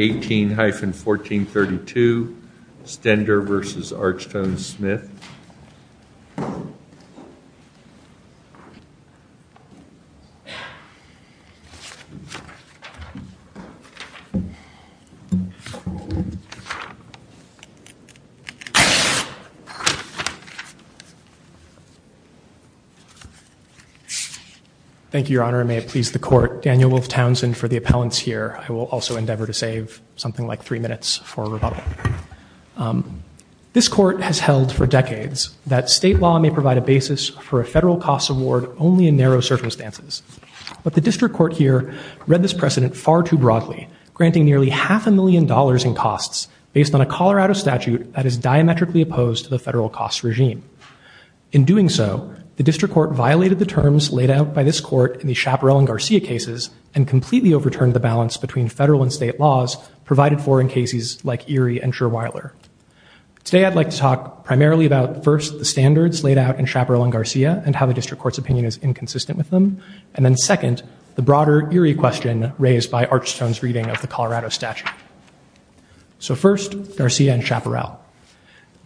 18-1432 Stender v. Archstone-Smith Thank you, Your Honor, and may it please the Court, Daniel Wolf Townsend for the minutes for rebuttal. This Court has held for decades that state law may provide a basis for a federal costs award only in narrow circumstances. But the District Court here read this precedent far too broadly, granting nearly half a million dollars in costs based on a Colorado statute that is diametrically opposed to the federal costs regime. In doing so, the District Court violated the terms laid out by this Court in the Chaparral and Garcia cases and completely overturned the balance between federal and state laws provided for in cases like Erie and Scherweiler. Today, I'd like to talk primarily about first, the standards laid out in Chaparral and Garcia and how the District Court's opinion is inconsistent with them, and then second, the broader Erie question raised by Archstone's reading of the Colorado statute. So first, Garcia and Chaparral.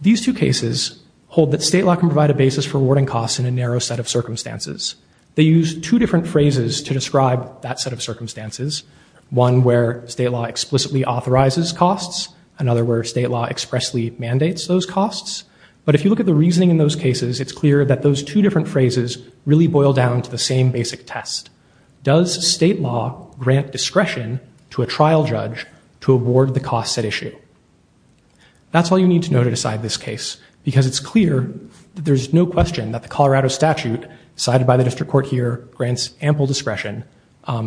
These two cases hold that state law can provide a basis for awarding costs in a narrow set of circumstances. They use two different phrases to describe that set of circumstances. One where state law explicitly authorizes costs, another where state law expressly mandates those costs. But if you look at the reasoning in those cases, it's clear that those two different phrases really boil down to the same basic test. Does state law grant discretion to a trial judge to award the cost set issue? That's all you need to know to decide this case because it's clear that there's no question that the Colorado statute cited by the District Court here grants ample discretion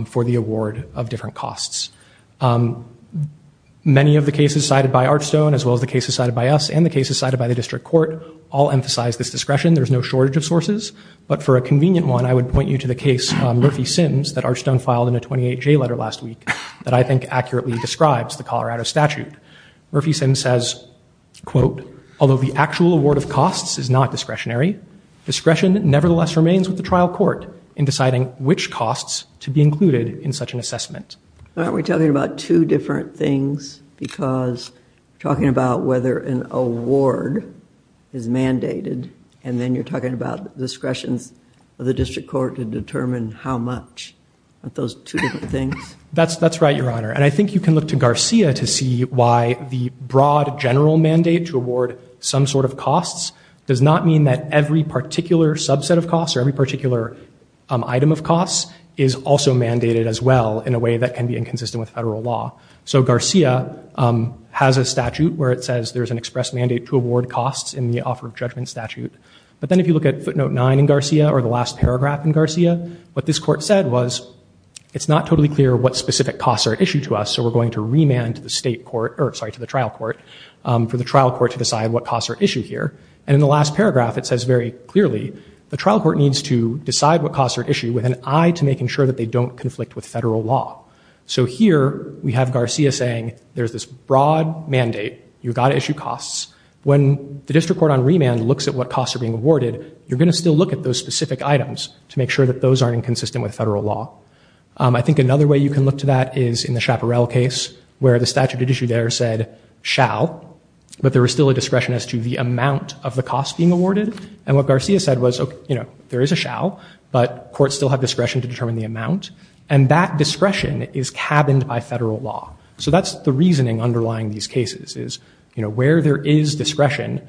for the award of different costs. Many of the cases cited by Archstone as well as the cases cited by us and the cases cited by the District Court all emphasize this discretion. There's no shortage of sources, but for a convenient one, I would point you to the case Murphy-Sims that Archstone filed in a 28-J letter last week that I think accurately describes the Colorado statute. Murphy-Sims says, quote, although the actual award of costs is not granted, discretion nevertheless remains with the trial court in deciding which costs to be included in such an assessment. Are we talking about two different things because we're talking about whether an award is mandated and then you're talking about the discretion of the District Court to determine how much? Aren't those two different things? That's right, Your Honor. And I think you can look to Garcia to see why the broad general mandate to award some sort of costs does not mean that every particular subset of costs or every particular item of costs is also mandated as well in a way that can be inconsistent with federal law. So Garcia has a statute where it says there's an express mandate to award costs in the Offer of Judgment statute. But then if you look at footnote 9 in Garcia or the last paragraph in Garcia, what this court said was it's not totally clear what specific costs are issued to us, so we're going to remand to the trial court for the trial court to decide what costs are issued here. And in the last paragraph, it says very clearly the trial court needs to decide what costs are issued with an eye to making sure that they don't conflict with federal law. So here we have Garcia saying there's this broad mandate, you've got to issue costs. When the District Court on remand looks at what costs are being awarded, you're going to still look at those specific items to make sure that those aren't inconsistent with federal law. I think another way you can look to that is in the Chaparral case where the statute issue there said shall, but there was still a discretion as to the amount of the costs being awarded. And what Garcia said was, you know, there is a shall, but courts still have discretion to determine the amount. And that discretion is cabined by federal law. So that's the reasoning underlying these cases is, you know, where there is discretion,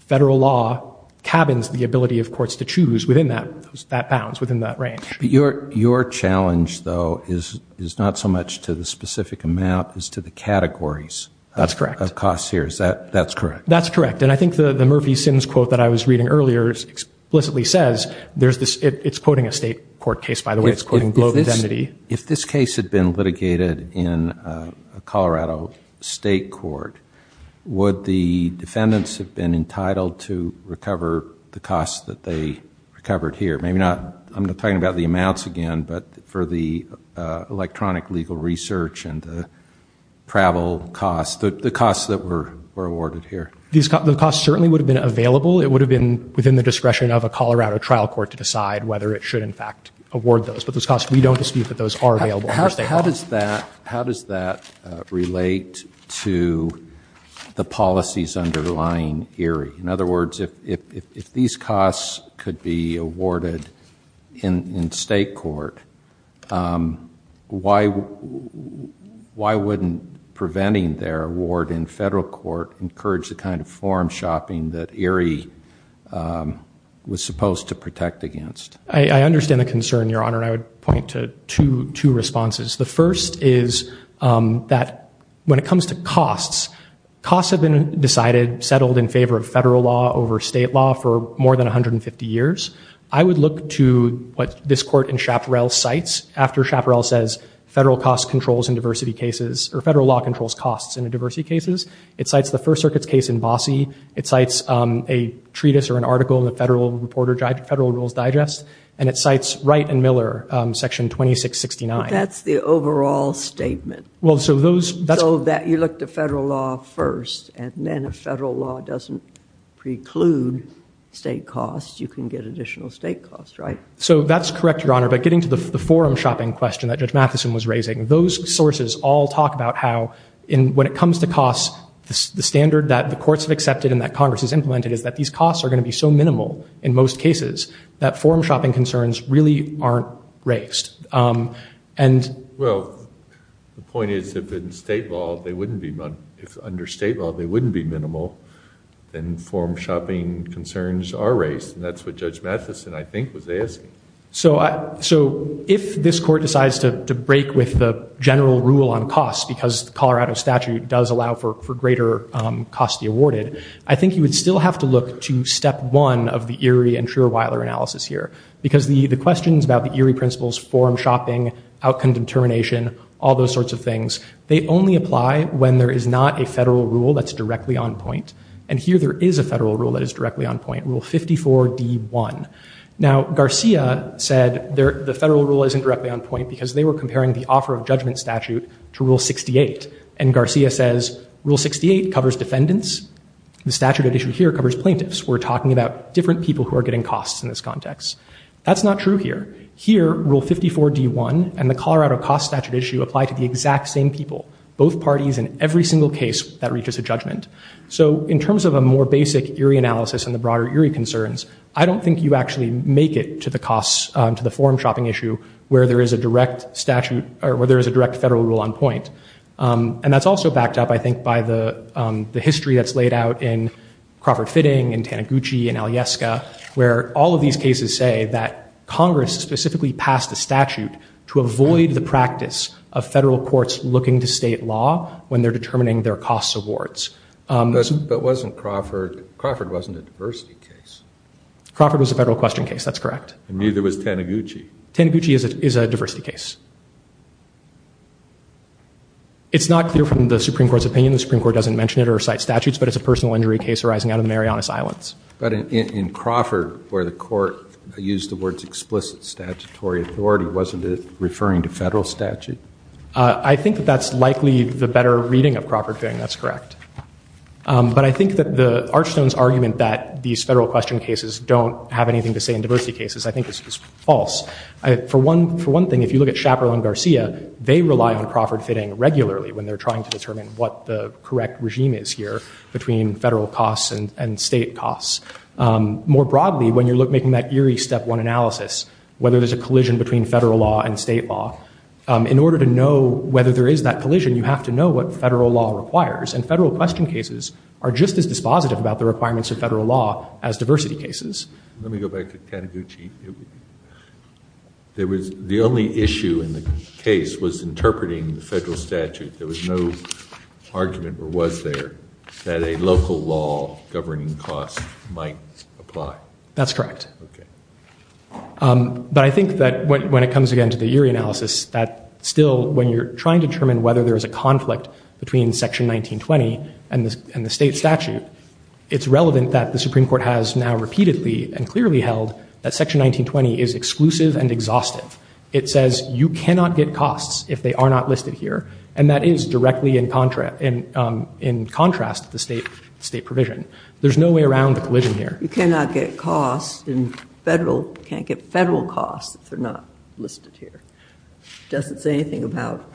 federal law cabins the ability of courts to choose within that bounds, within that range. But your challenge, though, is not so much to the specific amount as to the categories of costs here. That's correct. And I think the Murphy-Sins quote that I was reading earlier explicitly says, it's quoting a state court case, by the way, it's quoting global indemnity. If this case had been litigated in a Colorado state court, would the defendants have been entitled to recover the costs that they recovered here? Maybe not, I'm talking about the amounts again, but for the electronic legal research and the travel costs, the costs that were awarded here. The costs certainly would have been available. It would have been within the discretion of a Colorado trial court to decide whether it should, in fact, award those. But those costs, we don't dispute that those are available under state law. How does that relate to the policies underlying ERIE? In other words, if these costs could be awarded in state court, why wouldn't preventing their award in federal court encourage the kind of forum shopping that ERIE was supposed to protect against? I understand the concern, Your Honor, and I would point to two responses. The first is that when it comes to costs, costs have been decided, settled in favor of federal law over state law for more than 150 years. I would look to what this court in Chaparral cites after Chaparral says federal cost controls in diversity cases, or federal law controls costs in a diversity cases. It cites the First Circuit's case in Bossie. It cites a treatise or an article in the Federal Reporter, Federal Rules Digest. And it cites Wright and Miller, Section 2669. But that's the overall statement. Well, so those, that's you look to federal law first, and then if federal law doesn't preclude state costs, you can get additional state costs, right? So that's correct, Your Honor. But getting to the forum shopping question that Judge Matheson was raising, those sources all talk about how when it comes to costs, the standard that the courts have accepted and that Congress has implemented is that these costs are going to be so minimal in most cases that forum shopping concerns really aren't raised. Well, the point is if under state law they wouldn't be minimal, then forum shopping concerns are raised. And that's what Judge Matheson, I think, was asking. So if this court decides to break with the general rule on costs because the Colorado statute does allow for greater costs to be awarded, I think you would still have to look to step one of the Erie and Schrierweiler analysis here. Because the questions about the Erie principles, forum shopping, outcome determination, all those sorts of things, they only apply when there is not a federal rule that's directly on point. And here there is a federal rule that is directly on point, Rule 54D1. Now Garcia said the federal rule isn't directly on point because they were comparing the offer of judgment statute to Rule 68. And Garcia says Rule 68 covers defendants. The statute at issue here covers plaintiffs. We're talking about different people who are getting costs in this context. That's not true here. Here, Rule 54D1 and the Colorado cost statute issue apply to the exact same people, both parties in every single case that reaches a judgment. So in terms of a more basic Erie analysis and the broader Erie concerns, I don't think you actually make it to the forum shopping issue where there is a direct federal rule on point. And that's also backed up, I think, by the history that's laid out in Crawford All of these cases say that Congress specifically passed a statute to avoid the practice of federal courts looking to state law when they're determining their costs awards. But wasn't Crawford, Crawford wasn't a diversity case. Crawford was a federal question case, that's correct. And neither was Taniguchi. Taniguchi is a diversity case. It's not clear from the Supreme Court's opinion, the Supreme Court doesn't mention it or cite statutes, but it's a personal injury case arising out of the Marianas Islands. But in Crawford, where the court used the words explicit statutory authority, wasn't it referring to federal statute? I think that that's likely the better reading of Crawford Fitting, that's correct. But I think that the Archstone's argument that these federal question cases don't have anything to say in diversity cases, I think is false. For one, for one thing, if you look at Shapiro and Garcia, they rely on Crawford Fitting regularly when they're trying to determine what the correct regime is here between federal costs and state costs. More broadly, when you're making that eerie step one analysis, whether there's a collision between federal law and state law, in order to know whether there is that collision, you have to know what federal law requires. And federal question cases are just as dispositive about the requirements of federal law as diversity cases. Let me go back to Taniguchi. There was, the only issue in the case was interpreting the argument, or was there, that a local law governing costs might apply. That's correct. Okay. But I think that when it comes again to the eerie analysis, that still, when you're trying to determine whether there's a conflict between Section 1920 and the state statute, it's relevant that the Supreme Court has now repeatedly and clearly held that Section 1920 is exclusive and exhaustive. It says you cannot get costs if they are not listed here, and that is directly in contrast to the state provision. There's no way around the collision here. You cannot get costs in federal, you can't get federal costs if they're not listed here. It doesn't say anything about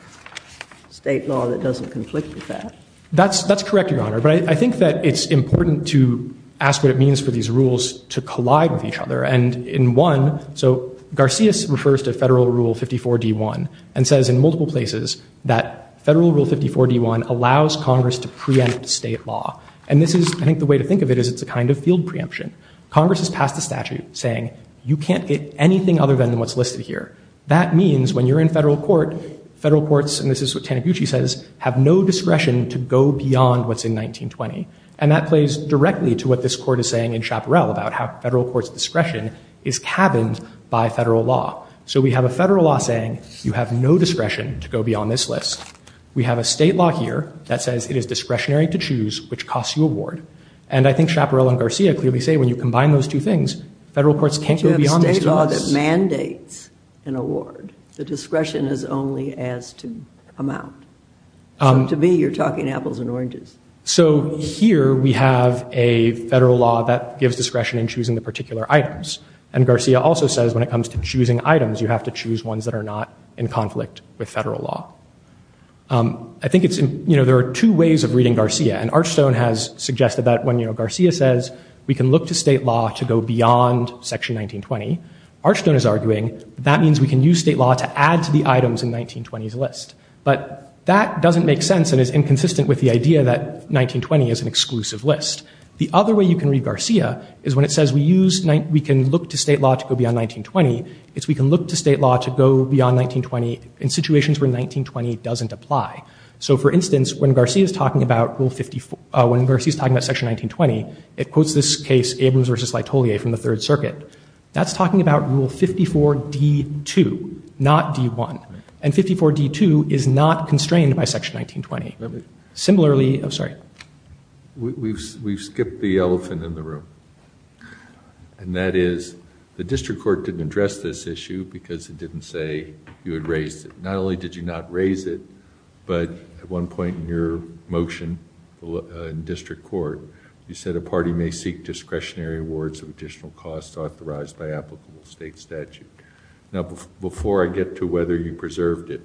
state law that doesn't conflict with that. That's correct, Your Honor. But I think that it's important to ask what it means for these rules to collide with each other. And in one, so, Garcia refers to Federal Rule 54-D1 and says in multiple places that Federal Rule 54-D1 allows Congress to preempt state law. And this is, I think, the way to think of it is it's a kind of field preemption. Congress has passed a statute saying you can't get anything other than what's listed here. That means when you're in federal court, federal courts, and this is what Taniguchi says, have no discretion to go beyond what's in 1920. And that plays directly to what this Court is saying in Chaparral about how federal court's discretion is cabined by federal law. So we have a federal law saying you have no discretion to go beyond this list. We have a state law here that says it is discretionary to choose which costs you award. And I think Chaparral and Garcia clearly say when you combine those two things, federal courts can't go beyond this list. But you have a state law that mandates an award. The discretion is only as to amount. So to me, you're talking apples and oranges. So here we have a federal law that gives discretion in choosing the particular items. And Garcia also says when it comes to choosing items, you have to choose ones that are not in conflict with federal law. I think there are two ways of reading Garcia. And Archstone has suggested that when Garcia says we can look to state law to go beyond Section 1920, Archstone is arguing that means we can use state law to add to the items in 1920s list. But that doesn't make sense and is inconsistent with the idea that 1920 is an exclusive list. The other way you can read Garcia is when it says we can look to state law to go beyond 1920, it's we can look to state law to go beyond 1920 in situations where 1920 doesn't apply. So, for instance, when Garcia is talking about Section 1920, it quotes this case, Abrams v. Laetolier from the Third Circuit. That's talking about Rule 54D2, not D1. And 54D2 is not constrained by Section 1920. Similarly, I'm sorry. We've skipped the elephant in the room. And that is the district court didn't address this issue because it didn't say you had raised it. Not only did you not raise it, but at one point in your motion in district court, you said a party may seek discretionary awards of additional costs authorized by applicable state statute. Now, before I get to whether you preserved it,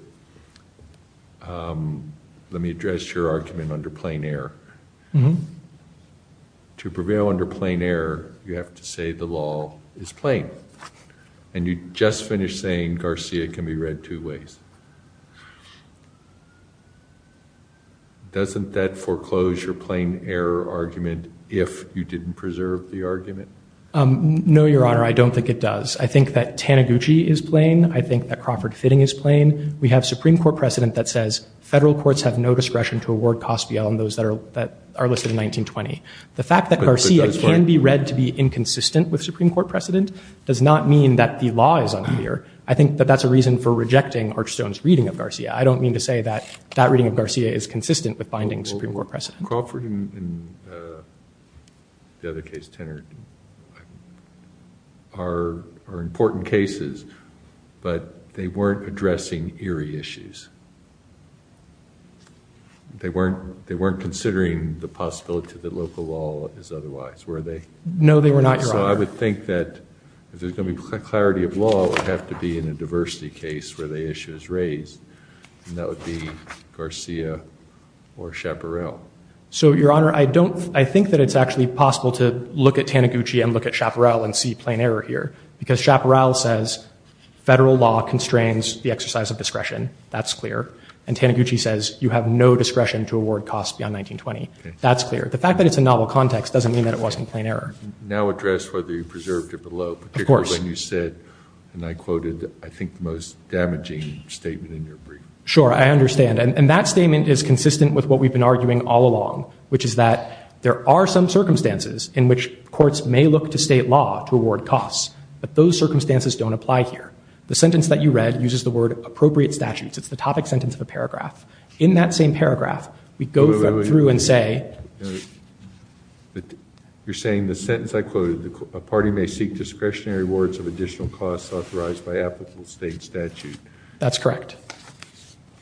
let me address your argument under plain error. To prevail under plain error, you have to say the law is plain. And you just finished saying Garcia can be read two ways. Doesn't that foreclose your plain error argument if you didn't preserve the argument? No, Your Honor, I don't think it does. I think that Taniguchi is plain. I think that Crawford Fitting is plain. We have Supreme Court precedent that says federal courts have no discretion to award costs beyond those that are listed in 1920. The fact that Garcia can be read to be inconsistent with Supreme Court precedent does not mean that the law is unclear. I think that that's a reason for rejecting Archstone's reading of Garcia. I don't mean to say that that reading of Garcia is consistent with binding Supreme Court precedent. Crawford and the other case, Tenard, are important cases, but they weren't addressing eerie issues. They weren't considering the possibility that local law is otherwise. Were they? No, they were not, Your Honor. So I would think that if there's going to be clarity of law, it would have to be in a diversity case where the issue is raised, and that would be Garcia or Chaparral. So, Your Honor, I think that it's actually possible to look at Taniguchi and look at Chaparral and see plain error here, because Chaparral says federal law constrains the exercise of discretion. That's clear. And Taniguchi says you have no discretion to award costs beyond 1920. That's clear. The fact that it's a novel context doesn't mean that it wasn't plain error. Now address whether you preserved it below, particularly when you said, and I quoted I think the most damaging statement in your brief. Sure, I understand. And that statement is consistent with what we've been arguing all along, which is that there are some circumstances in which courts may look to state law to award costs, but those circumstances don't apply here. The sentence that you read uses the word appropriate statutes. It's the topic sentence of a paragraph. In that same paragraph, we go through and say Wait, wait, wait. You're saying the sentence I quoted, a party may seek discretionary awards of additional costs authorized by applicable state statute. That's correct.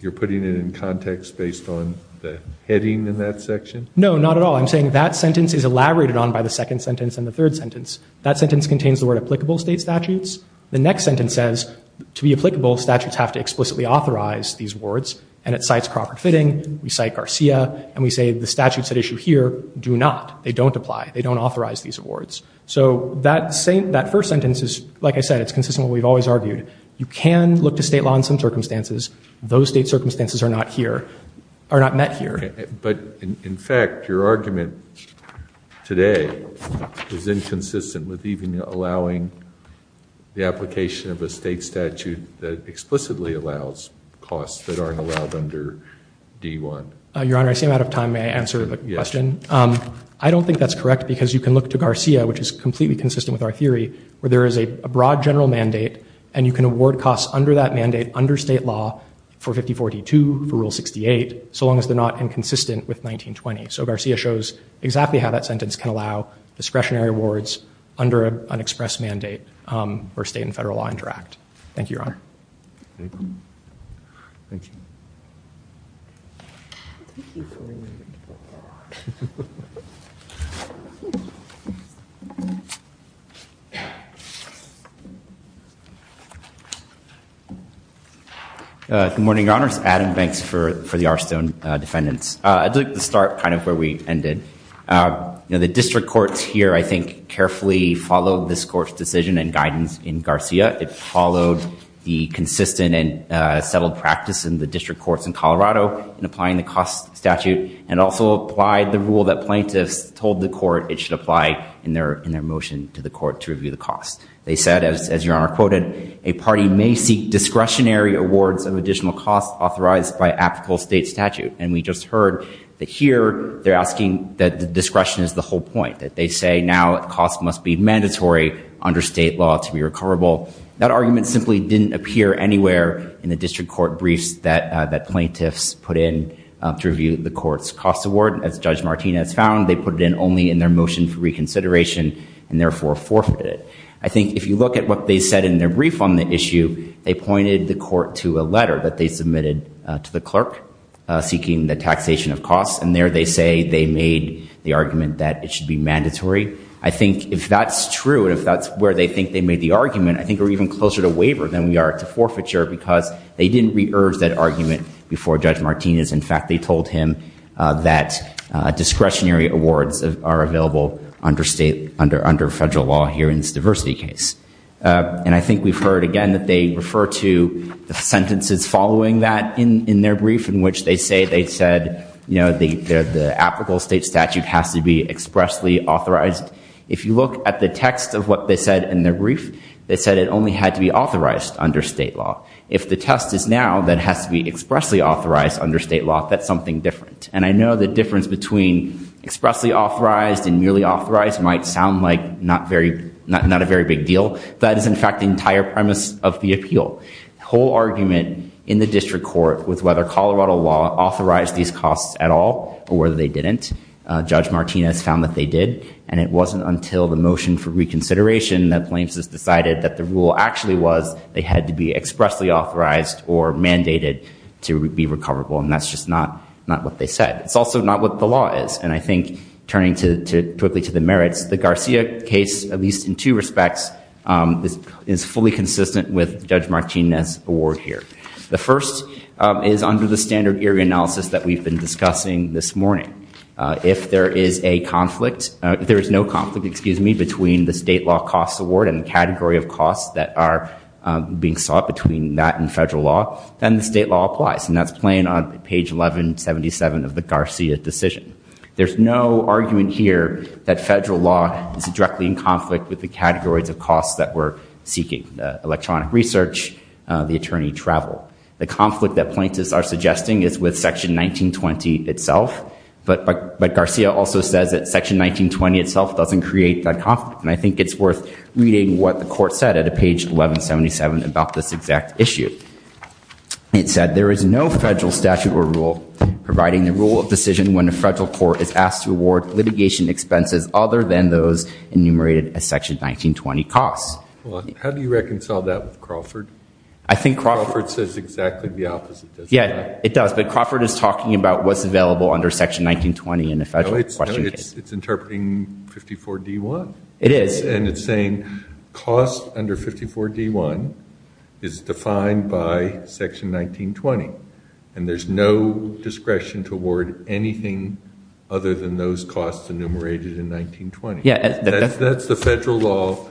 You're putting it in context based on the heading in that section? No, not at all. I'm saying that sentence is elaborated on by the second sentence and the third sentence. That sentence contains the word applicable state statutes. The next sentence says to be applicable, statutes have to explicitly authorize these awards. And it cites Crawford Fitting. We cite Garcia. And we say the statutes at issue here do not. They don't apply. They don't authorize these awards. So that first sentence is, like I said, it's consistent with what we've always argued. You can look to state law in some circumstances. Those state circumstances are not here, are not met here. But in fact, your argument today is inconsistent with even allowing the application of a state statute that explicitly allows costs that aren't allowed under D1. Your Honor, I seem out of time. May I answer the question? Yes. I don't think that's correct, because you can look to Garcia, which is completely consistent with our theory, where there is a broad general mandate, and you can award costs under that mandate under state law for 5042, for Rule 68, so long as they're not inconsistent with 1920. So Garcia shows exactly how that sentence can allow discretionary awards under an express mandate where state and federal law interact. Thank you, Your Honor. Thank you. Good morning, Your Honors. Adam Banks for the Arstone defendants. I'd like to start kind of where we ended. The district courts here, I think, carefully followed this court's decision and guidance in Garcia. It followed the consistent and settled practice in the district courts in Colorado in applying the cost statute, and also applied the rule that plaintiffs told the court it should apply in their motion to the court to review the cost. They said, as Your Honor quoted, a party may seek discretionary awards of additional costs authorized by applicable state statute. And we just heard that here they're asking that the discretion is the whole point, that they say now that costs must be mandatory under state law to be recoverable. That argument simply didn't appear anywhere in the district court briefs that plaintiffs put in to review the court's cost award. As Judge Martinez found, they put it in only in their motion for reconsideration, and therefore forfeited it. I think if you look at what they said in their brief on the issue, they pointed the court to a letter that they submitted to the clerk seeking the taxation of costs, and there they say they made the argument that it should be mandatory. I think if that's true, and if that's where they think they made the argument, I think we're even closer to waiver than we are to forfeiture, because they didn't re-urge that argument before Judge Martinez. In fact, they told him that discretionary awards are available under federal law here in this diversity case. And I think we've heard again that they refer to the sentences following that in their brief, in which they say they said the applicable state statute has to be expressly authorized. If you look at the text of what they said in their brief, they said it only had to be authorized under state law. If the test is now that it has to be expressly authorized under state law, that's something different. And I know the difference between expressly authorized and merely authorized might sound like not a very big deal, but that is in fact the entire premise of the appeal. The whole argument in the district court was whether Colorado law authorized these costs at all or whether they didn't. Judge Martinez found that they did, and it wasn't until the motion for reconsideration that Plains decided that the rule actually was they had to be expressly authorized or mandated to be recoverable, and that's just not what they said. It's also not what the is fully consistent with Judge Martinez's award here. The first is under the standard area analysis that we've been discussing this morning. If there is a conflict, if there is no conflict, excuse me, between the state law costs award and the category of costs that are being sought between that and federal law, then the state law applies, and that's plain on page 1177 of the Garcia decision. There's no argument here that federal law is directly in conflict with the categories of costs that we're seeking, the electronic research, the attorney travel. The conflict that plaintiffs are suggesting is with section 1920 itself, but Garcia also says that section 1920 itself doesn't create that conflict, and I think it's worth reading what the court said at page 1177 about this exact issue. It said, there is no federal statute or rule providing the rule of decision when a federal court is asked to award litigation expenses other than those enumerated as section 1920 costs. Well, how do you reconcile that with Crawford? Crawford says exactly the opposite, doesn't it? Yeah, it does, but Crawford is talking about what's available under section 1920 in the federal question case. No, it's interpreting 54D1. It is. And it's saying costs under 54D1 is defined by section 1920, and there's no discretion to award anything other than those costs enumerated in 1920. That's the federal law.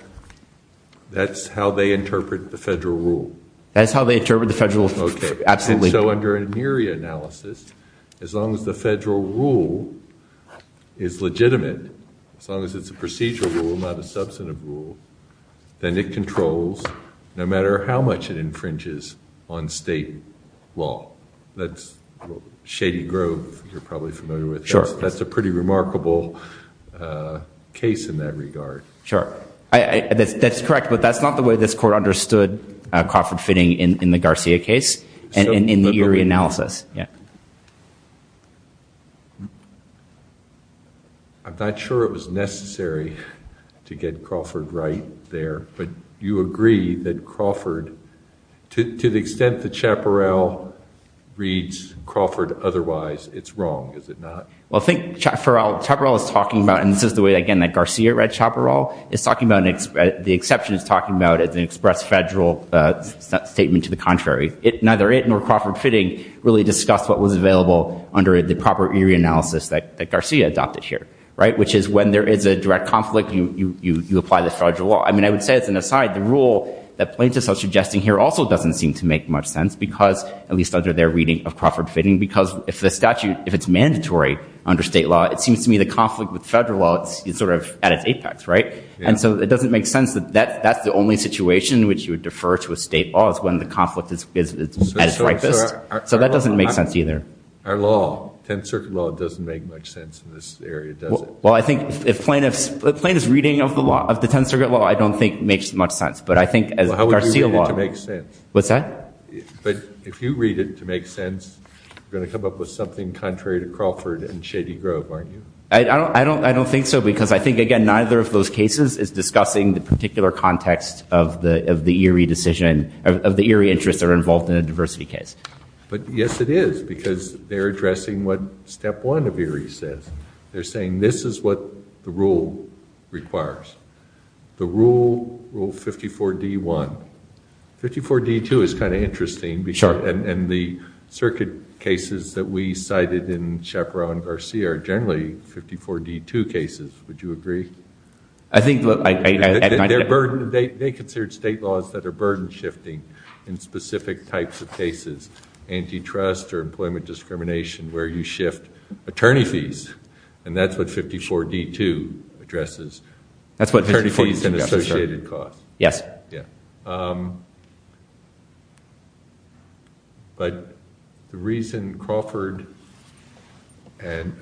That's how they interpret the federal rule. That's how they interpret the federal rule, absolutely. Okay, and so under an NERIA analysis, as long as the federal rule is legitimate, as long as it's a procedural rule, not a substantive rule, then it controls no matter how much it infringes on state law. That's Shady Grove, you're probably familiar with that. Sure. That's a pretty remarkable case in that regard. Sure. That's correct, but that's not the way this court understood Crawford fitting in the Garcia case and in the NERIA analysis. I'm not sure it was necessary to get Crawford right there, but you agree that Crawford, to the extent that Chaparral reads Crawford otherwise, it's wrong, is it not? Well, I think Chaparral is talking about, and this is the way, again, that Garcia read Chaparral, is talking about, the exception is talking about an express federal statement to the contrary. Neither it nor Crawford fitting really discussed what was available under the proper NERIA analysis that Garcia adopted here, which is when there is a direct conflict, you apply the federal law. I mean, I would say as an aside, the rule that plaintiffs are suggesting here also doesn't seem to make much sense because, at least under their reading of Crawford fitting, because if the statute, if it's mandatory under state law, it seems to me the conflict with federal law is sort of at its apex, right? And so it doesn't make sense that that's the only situation in which you would defer to a state law is when the conflict is at its ripest. So that doesn't make sense either. Our law, Tenth Circuit law, doesn't make much sense in this area, does it? Well, I think if plaintiffs' reading of the law, of the Tenth Circuit law, I don't think makes much sense. But I think as Garcia law- Well, how would you read it to make sense? What's that? But if you read it to make sense, you're going to come up with something contrary to Crawford and Shady Grove, aren't you? I don't think so, because I think, again, neither of those cases is discussing the particular context of the Erie decision, of the Erie interests that are involved in a diversity case. But yes, it is, because they're addressing what step one of Erie says. They're saying this is what the rule requires. The rule, Rule 54-D-1. 54-D-2 is kind of interesting and the circuit cases that we cited in Chaparral and Garcia are generally 54-D-2 cases. Would you agree? I think- They're burdened. They consider state laws that are burden-shifting in specific types of cases, antitrust or employment discrimination, where you shift attorney fees. And that's what 54-D-2 addresses. That's what 54-D-2- Attorney fees and associated costs. Yes. But the reason Crawford and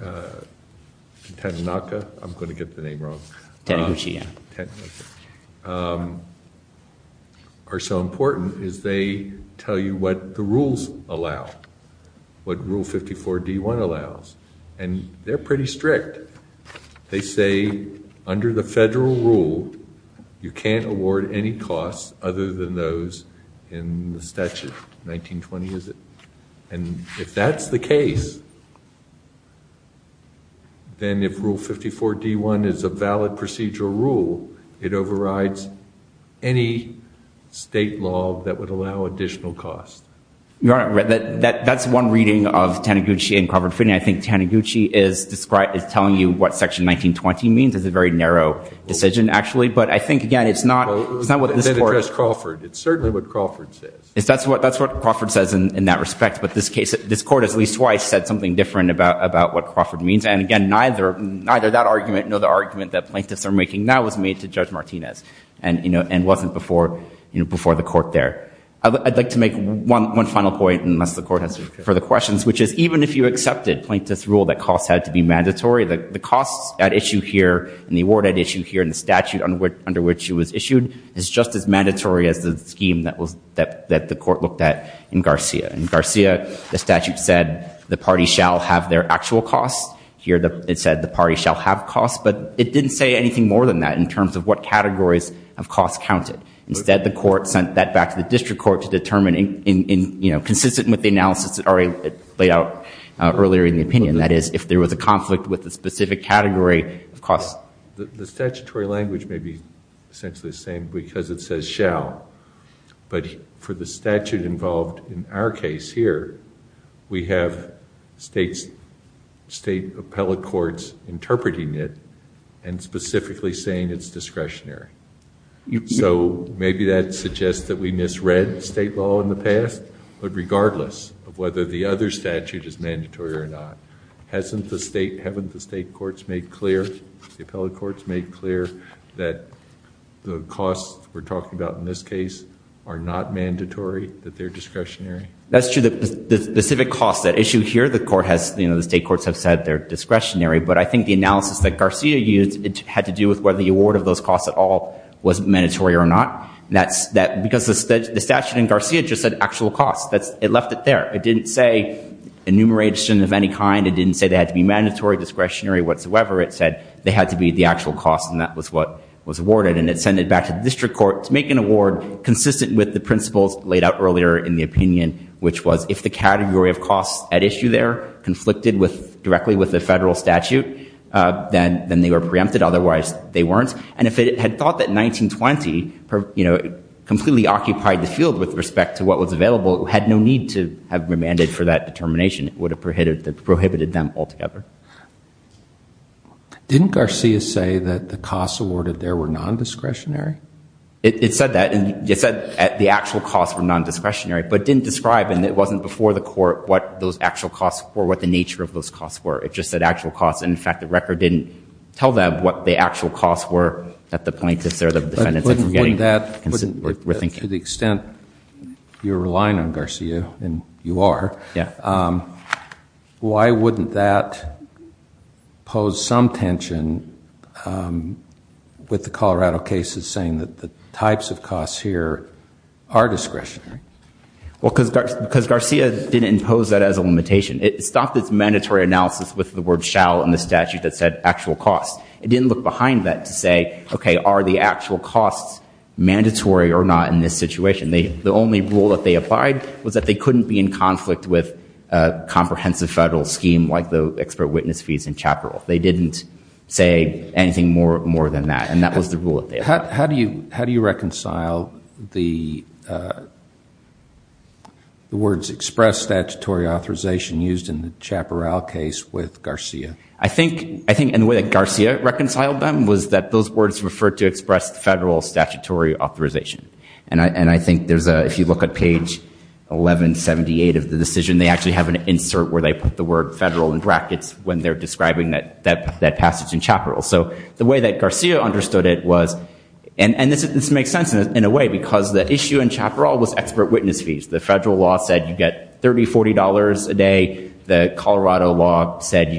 Tanaka, I'm going to get the name wrong, are so important is they tell you what the rules allow, what Rule 54-D-1 allows. And they're pretty strict. They say, under the federal rule, you can't award any costs other than those in the statute. 1920 is it? And if that's the case, then if Rule 54-D-1 is a valid procedural rule, it overrides any state law that would allow additional costs. Your Honor, that's one reading of Taniguchi and Crawford Finney. I think Taniguchi is telling you what Section 1920 means. It's a very narrow decision, actually. But I think, again, it's not what this Court- Well, it's not what they've addressed Crawford. It's certainly what Crawford says. That's what Crawford says in that respect. But this Court has at least twice said something different about what Crawford means. And, again, neither that argument nor the argument that plaintiffs are making now was made to Judge Martinez and wasn't before the Court there. I'd like to make one final point, unless the Court has further questions, which is even if you accepted plaintiff's rule that costs had to be mandatory, the costs at issue here and the award at issue here and the statute under which it was issued is just as mandatory as the scheme that the Court looked at in Garcia. In Garcia, the statute said the party shall have their actual costs. Here, it said the party shall have costs. But it didn't say anything more than that in terms of what categories of costs counted. Instead, the Court went back to the district court to determine in, you know, consistent with the analysis that already laid out earlier in the opinion, that is, if there was a conflict with a specific category of costs. The statutory language may be essentially the same because it says shall. But for the statute involved in our case here, we have state appellate courts interpreting it and specifically saying it's discretionary. So maybe that suggests that we misread state law in the past. But regardless of whether the other statute is mandatory or not, hasn't the state, haven't the state courts made clear, the appellate courts made clear that the costs we're talking about in this case are not mandatory, that they're discretionary? That's true. The specific costs at issue here, the Court has, you know, the state courts have said they're discretionary. But I think the analysis that Garcia used, it had to do with whether the award of those costs at all was mandatory or not. That's because the statute in Garcia just said actual costs. It left it there. It didn't say enumeration of any kind. It didn't say they had to be mandatory, discretionary whatsoever. It said they had to be the actual costs, and that was what was awarded. And it sent it back to the district court to make an award consistent with the principles laid out earlier in the opinion, which was if the category of costs at issue there conflicted with, directly with the federal statute, then they were preempted. Otherwise, they weren't. And if it had thought that 1920, you know, completely occupied the field with respect to what was available, it had no need to have remanded for that determination. It would have prohibited them altogether. Didn't Garcia say that the costs awarded there were nondiscretionary? It said that. And it said the actual costs were nondiscretionary, but it didn't describe, and it wasn't before the court, what those actual costs were, what the nature of those costs were. It just said actual costs. And in fact, the record didn't tell them what the actual costs were at the point if they're the defendants that were getting consent. To the extent you're relying on Garcia, and you are, why wouldn't that pose some tension with the Colorado cases saying that the types of costs here are discretionary? Well, because Garcia didn't impose that as a limitation. It stopped its mandatory analysis with the word shall in the statute that said actual costs. It didn't look behind that to say, okay, are the actual costs mandatory or not in this situation? The only rule that they applied was that they couldn't be in conflict with a comprehensive federal scheme like the expert witness fees in Chaparral. They didn't say anything more than that. And that was the rule that they applied. How do you reconcile the words express statutory authorization used in the Chaparral case with Garcia? I think, and the way that Garcia reconciled them was that those words referred to express the federal statutory authorization. And I think there's a, if you look at page 1178 of the decision, they actually have an insert where they put the word federal in brackets when they're describing that passage in Chaparral. So the way that Garcia understood it was, and this makes sense in a way, because the issue in Chaparral was expert witness fees. The federal law said you get $30, $40 a day. The Colorado law said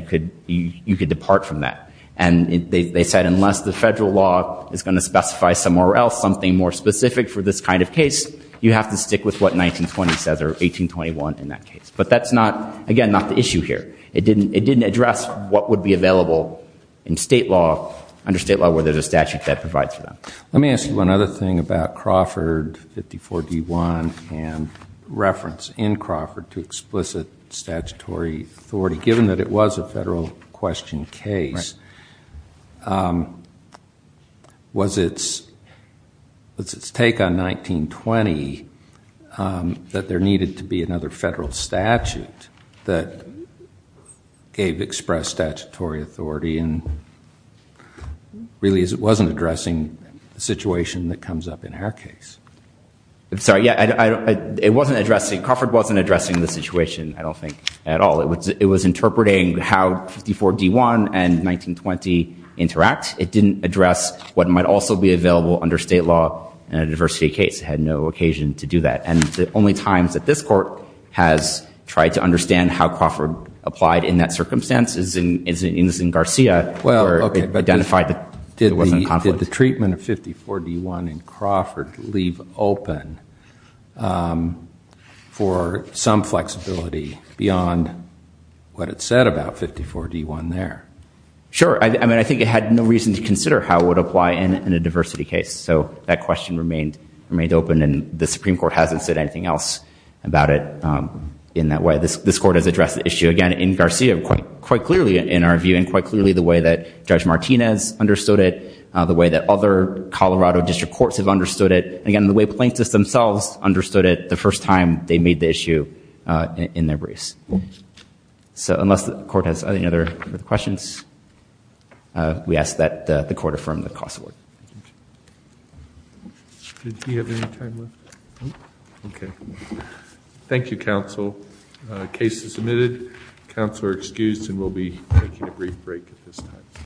you could depart from that. And they said unless the federal law is going to specify somewhere else something more specific for this kind of case, you have to stick with what 1920 says or 1821 in that case. But that's not, again, not the issue here. It didn't address what would be available in state law, under state law, whether there's a statute that provides for that. Let me ask you one other thing about Crawford 54-D1 and reference in Crawford to explicit statutory authority, given that it was a federal question case. Was it a federal question case that was its take on 1920 that there needed to be another federal statute that gave express statutory authority and really wasn't addressing the situation that comes up in our case? I'm sorry. Yeah. It wasn't addressing, Crawford wasn't addressing the situation, I don't think, at all. It was interpreting how 54-D1 and 1920 interact. It didn't address what might also be available under state law in a diversity case. It had no occasion to do that. And the only times that this court has tried to understand how Crawford applied in that circumstance is in Garcia where it identified that there wasn't conflict. Did the treatment of 54-D1 in Crawford leave open for some flexibility beyond what it said about 54-D1 there? Sure. I mean, I think it had no reason to consider how it would apply in a diversity case. So that question remained open and the Supreme Court hasn't said anything else about it in that way. This court has addressed the issue, again, in Garcia quite clearly in our view and quite clearly the way that Judge Martinez understood it, the way that other Colorado district courts have understood it, and again, the way plaintiffs themselves understood it the first time they made the issue in their briefs. So unless the court has any other questions, we ask that the court affirm the cross-award. Thank you, counsel. The case is submitted. Counsel are excused and we'll be taking a brief break at this time.